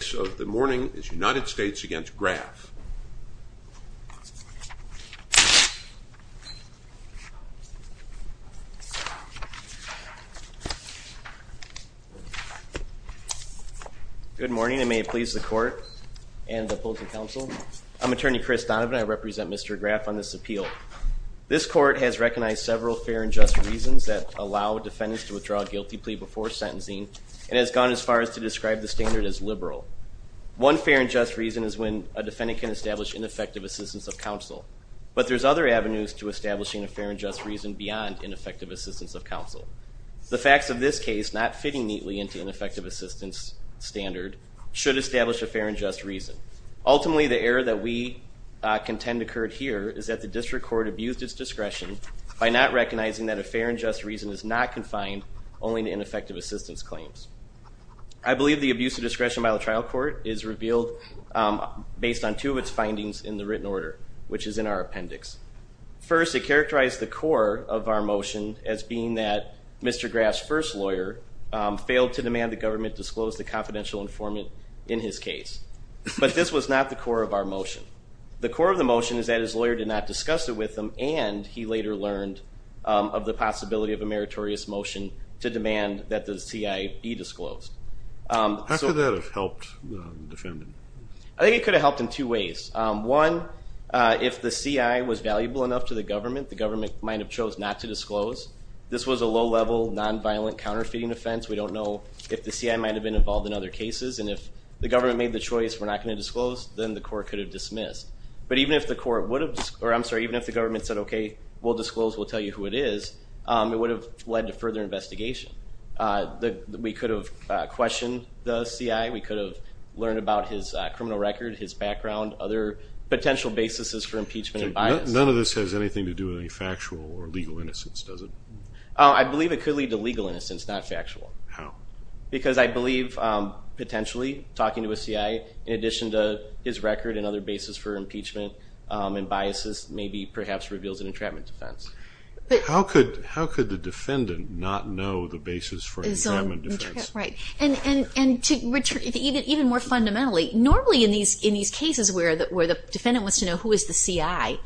So the morning is United States against Graf Good morning and may it please the court and the opposing counsel I'm attorney Chris Donovan I represent mr. Graf on this appeal this court has recognized several fair and just reasons that allow defendants to withdraw a guilty plea before sentencing and has gone as far as to describe the standard as liberal one fair and just reason is when a defendant can establish ineffective assistance of counsel but there's other avenues to establishing a fair and just reason beyond ineffective assistance of counsel the facts of this case not fitting neatly into an effective assistance standard should establish a fair and just reason ultimately the error that we contend occurred here is that the district court abused its discretion by not recognizing that a fair and just reason is not confined only to ineffective assistance claims I believe the abuse of discretion by the trial court is revealed based on two of its findings in the written order which is in our appendix first it characterized the core of our motion as being that mr. Graf's first lawyer failed to demand the government disclose the confidential informant in his case but this was not the core of our motion the core of the motion is that his lawyer did not discuss it with them and he later learned of the possibility of a meritorious motion to demand that the CI be disclosed so that helped defend I think it could have helped in two ways one if the CI was valuable enough to the government the government might have chose not to disclose this was a low level nonviolent counterfeiting offense we don't know if the CI might have been involved in other cases and if the government made the choice we're not going to disclose then the court could have dismissed but even if the court would have or I'm sorry even if the government said okay we'll disclose we'll tell you who it is it would have led to further investigation that we could have questioned the CI we could have learned about his criminal record his background other potential basis is for impeachment I none of this has anything to do with any factual or legal innocence does it I believe it could lead to legal innocence not factual how because I believe potentially talking to a CI in addition to his record and other basis for impeachment and biases maybe perhaps reveals an entrapment defense how could how could the defendant not know the basis for his own right and and and to even more fundamentally normally in these in these cases where that where the defendant was to know who is the CI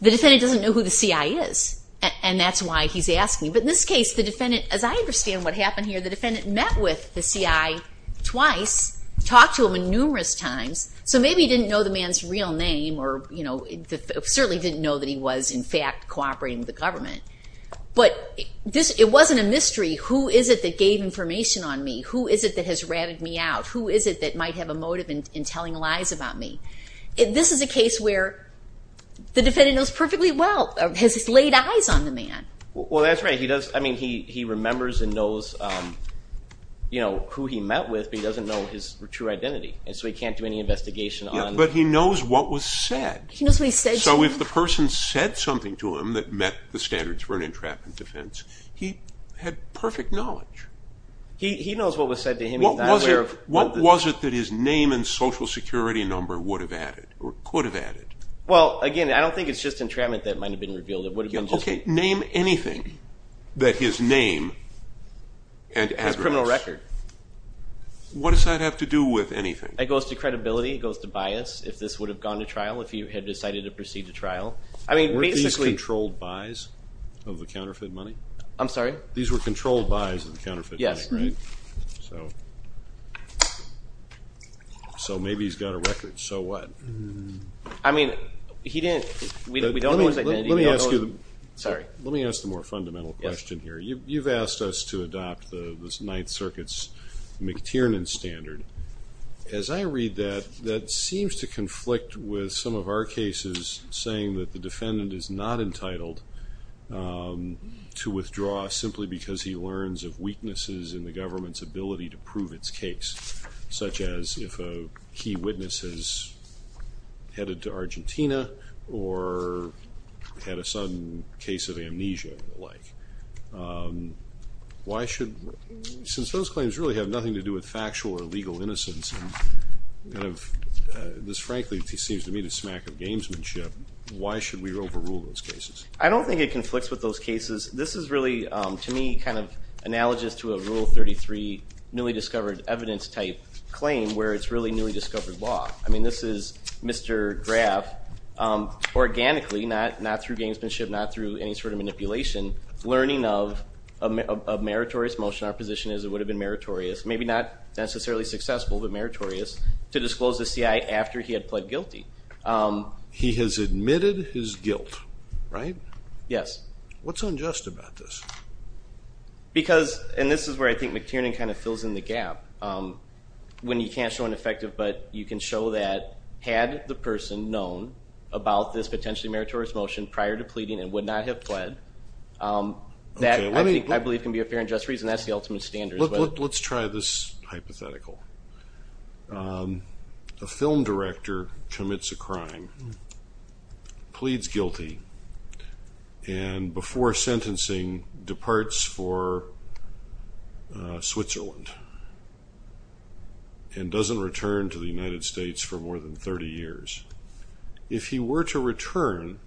the defendant doesn't know who the CI is and that's why he's asking but in this case the defendant as I understand what happened here the defendant met with the CI twice talked to him in numerous times so maybe didn't know the man's real name or you know certainly didn't know that he was in fact cooperating with the government but this it wasn't a mystery who is it that gave information on me who is it that has ratted me out who is it that might have a motive in telling lies about me if this is a case where the defendant knows perfectly well has laid eyes on the man well that's right he does I mean he he remembers and knows you know who he met with he doesn't know his true identity and so he can't do any said so if the person said something to him that met the standards for an entrapment defense he had perfect knowledge he knows what was said to him what was it what was it that his name and social security number would have added or could have added well again I don't think it's just entrapment that might have been revealed it would have been okay name anything that his name and criminal record what does that have to do with anything it goes to if you had decided to proceed to trial I mean basically controlled buys of the counterfeit money I'm sorry these were controlled buys of the counterfeit yes right so so maybe he's got a record so what I mean he didn't let me ask you sorry let me ask the more fundamental question here you've asked us to adopt the Ninth Circuit's McTiernan standard as I read that that seems to conflict with some of our cases saying that the defendant is not entitled to withdraw simply because he learns of weaknesses in the government's ability to prove its case such as if a key witnesses headed to Argentina or had a sudden case of amnesia like why should since those claims really have nothing to do with seems to be the smack of gamesmanship why should we rule those cases I don't think it conflicts with those cases this is really to me kind of analogous to a rule 33 newly discovered evidence type claim where it's really newly discovered law I mean this is mr. graph organically not not through gamesmanship not through any sort of manipulation learning of a meritorious motion our position is it would have been meritorious maybe not necessarily successful but meritorious to disclose the CI after he had pled guilty he has admitted his guilt right yes what's unjust about this because and this is where I think McTiernan kind of fills in the gap when you can't show an effective but you can show that had the person known about this potentially meritorious motion prior to pleading and would not have pled that I believe can be a fair and just reason that's the film director commits a crime pleads guilty and before sentencing departs for Switzerland and doesn't return to the United States for more than 30 years if he were to return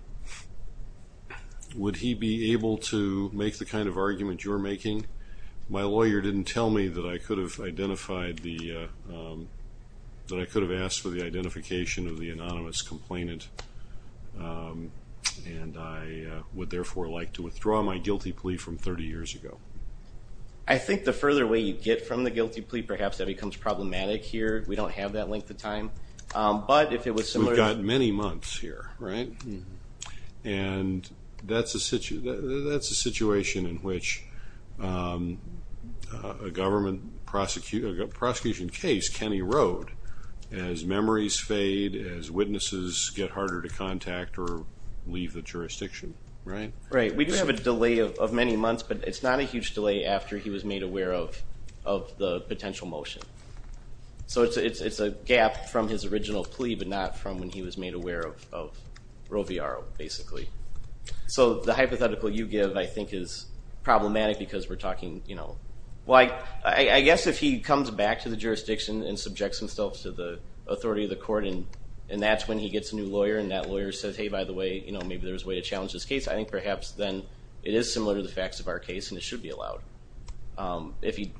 would he be able to make the kind of argument you're making my lawyer didn't tell me that I could have identified the that I could have asked for the identification of the anonymous complainant and I would therefore like to withdraw my guilty plea from 30 years ago I think the further way you get from the guilty plea perhaps that becomes problematic here we don't have that length of time but if it was similar got many months here right and that's a situation that's a situation in which a government prosecutor got prosecution case Kenny Road as memories fade as witnesses get harder to contact or leave the jurisdiction right right we don't have a delay of many months but it's not a huge delay after he was made aware of of the potential motion so it's a gap from his original plea but not from when he was aware of Rovio basically so the hypothetical you give I think is problematic because we're talking you know why I guess if he comes back to the jurisdiction and subjects himself to the authority of the court and and that's when he gets a new lawyer and that lawyer says hey by the way you know maybe there's way to challenge this case I think perhaps then it is similar to the facts of our case and it should be allowed if he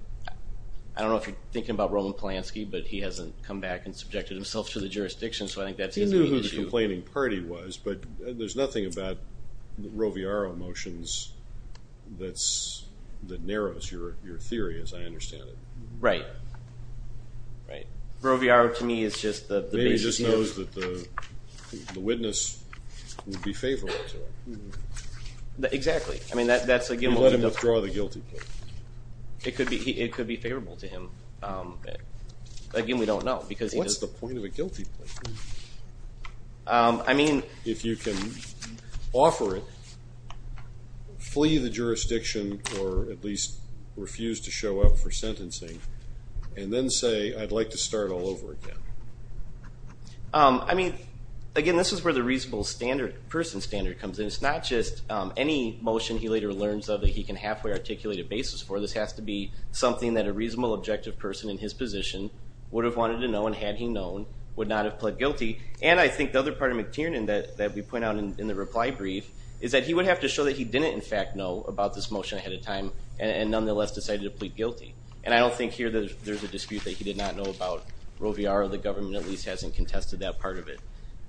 I don't know if you're thinking about Roman Polanski but he hasn't come back and subjected himself to the jurisdiction so I think that's even complaining party was but there's nothing about the Rovio motions that's that narrows your your theory as I understand it right right Rovio to me is just the baby just knows that the witness would be favorable to exactly I mean that that's again let him withdraw the guilty plea it could be it could be favorable to him again we don't know because what's the point of a guilty plea I mean if you can offer it flee the jurisdiction or at least refuse to show up for sentencing and then say I'd like to start all over again I mean again this is where the reasonable standard person standard comes in it's not just any motion he later learns of that he can halfway articulate a basis for this has to be something that a reasonable objective person in his position would have wanted to know and had he known would not have pled guilty and I think the other part of McTiernan that we point out in the reply brief is that he would have to show that he didn't in fact know about this motion ahead of time and nonetheless decided to plead guilty and I don't think here that there's a dispute that he did not know about Rovio or the government at least hasn't contested that part of it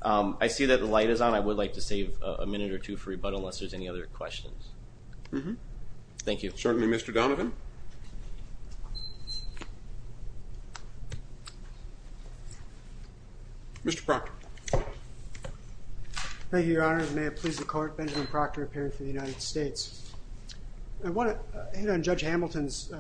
I see that the light is on I would like to save a minute or two for rebuttal unless there's any other questions mm-hmm thank you certainly mr. Donovan mr. Proctor thank you your honor may it please the court Benjamin Proctor appearing for the United States I want to hit on judge Hamilton's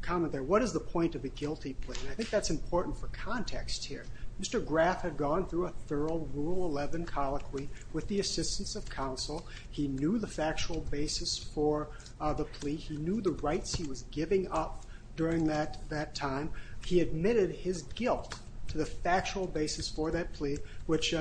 comment there what is the point of a guilty plea I think that's important for context here mr. graph had gone through a thorough rule 11 colloquy with the assistance of counsel he knew the factual basis for the plea he knew the rights he was giving up during that that time he admitted his guilt to the factual basis for that plea which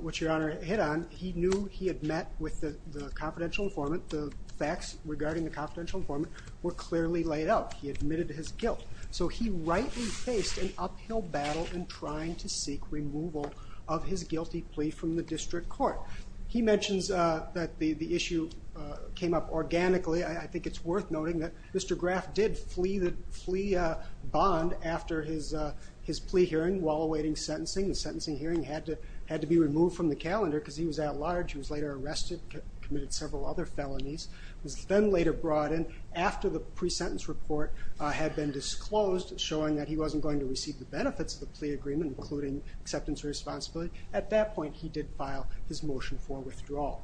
which your honor hit on he knew he had met with the confidential informant the facts regarding the confidential informant were clearly laid out he admitted his guilt so he rightly faced an uphill battle in trying to seek removal of his guilty plea from the district court he mentions that the the issue came up organically I think it's worth noting that mr. graph did flee the flea bond after his his plea hearing while awaiting sentencing the sentencing hearing had to had to be removed from the calendar because he was at large he was later arrested committed several other felonies was then later brought in after the pre-sentence report had been disclosed showing that he wasn't going to receive the benefits of the plea agreement including acceptance responsibility at that point he did file his motion for withdrawal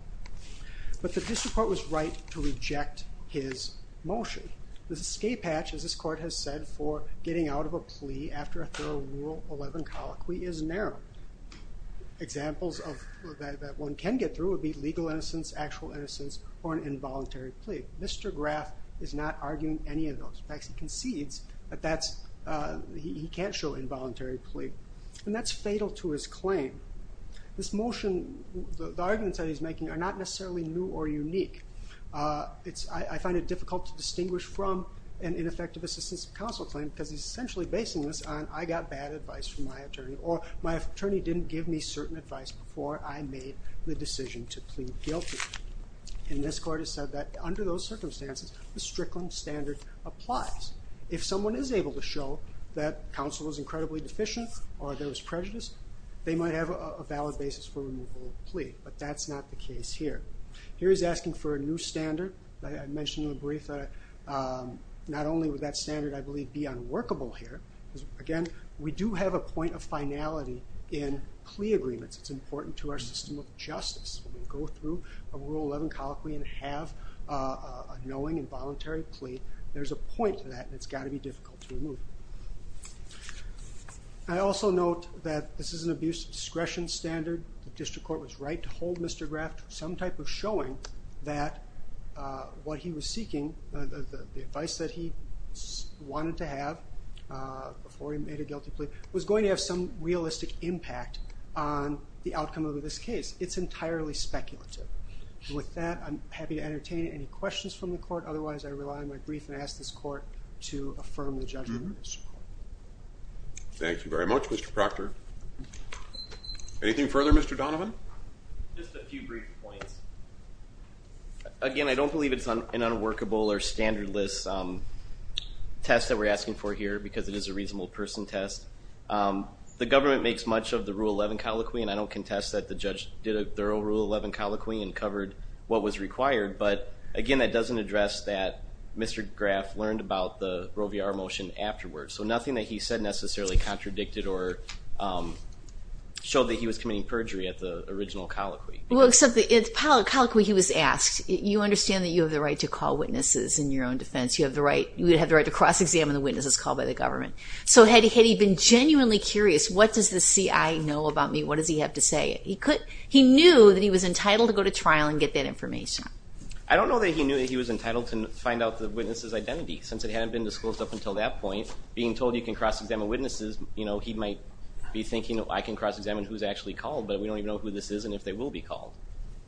but the district court was right to reject his motion this escape hatch as this court has said for getting out of a plea after a thorough rule 11 colloquy is narrow examples of that one can get through would be legal innocence actual innocence or an involuntary plea mr. graph is not arguing any of those facts he concedes but that's he can't show involuntary plea and that's fatal to his claim this motion the arguments that he's making are not necessarily new or unique it's I find it difficult to distinguish from an ineffective assistance counsel claim because he's essentially basing this on I got bad advice from my attorney or my attorney didn't give me certain advice before I made the decision to plead guilty and this court has said that under those circumstances the Strickland standard applies if someone is able to show that counsel is incredibly deficient or there was prejudice they might have a valid basis for removal plea but that's not the case here here is asking for a new standard I mentioned in the brief that not only with that standard I believe be unworkable here again we do have a point of finality in plea agreements it's important to our system of justice we go through a rule 11 colloquy and have a knowing involuntary plea there's a point to that and it's got to be difficult to the district court was right to hold mr. graft some type of showing that what he was seeking the advice that he wanted to have before he made a guilty plea was going to have some realistic impact on the outcome of this case it's entirely speculative with that I'm happy to entertain any questions from the court otherwise I rely on my brief and ask this court to affirm the judgment thank you very much mr. Proctor anything further mr. Donovan just a few brief points again I don't believe it's on an unworkable or standard lists test that we're asking for here because it is a reasonable person test the government makes much of the rule 11 colloquy and I don't contest that the judge did a thorough rule 11 colloquy and covered what was required but again that doesn't address that mr. graph learned about the Roe v. R motion afterwards so nothing that he said necessarily contradicted or showed that he was committing perjury at the original colloquy well except the it's politically he was asked you understand that you have the right to call witnesses in your own defense you have the right you would have the right to cross-examine the witnesses called by the government so had he been genuinely curious what does the CI know about me what does he have to say he could he knew that he was entitled to go to trial and get that information I don't know that he knew that he was entitled to find out the witnesses identity since it hadn't been disclosed up until that point being told you can cross-examine witnesses you know he might be thinking I can cross-examine who's actually called but we don't even know who this is and if they will be called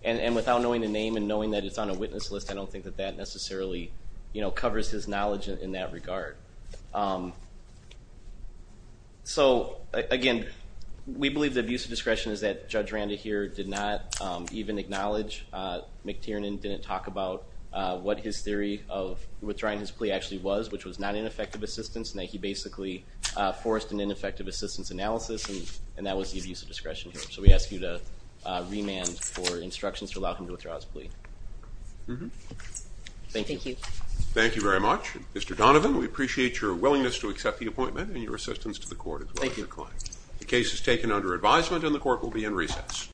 and and without knowing the name and knowing that it's on a witness list I don't think that that necessarily you know covers his knowledge in that regard so again we believe the abuse of here did not even acknowledge McTiernan didn't talk about what his theory of withdrawing his plea actually was which was not ineffective assistance and that he basically forced an ineffective assistance analysis and and that was the abuse of discretion so we ask you to remand for instructions to allow him to withdraw his plea thank you thank you very much mr. Donovan we appreciate your willingness to accept the appointment and your assistance to the court thank you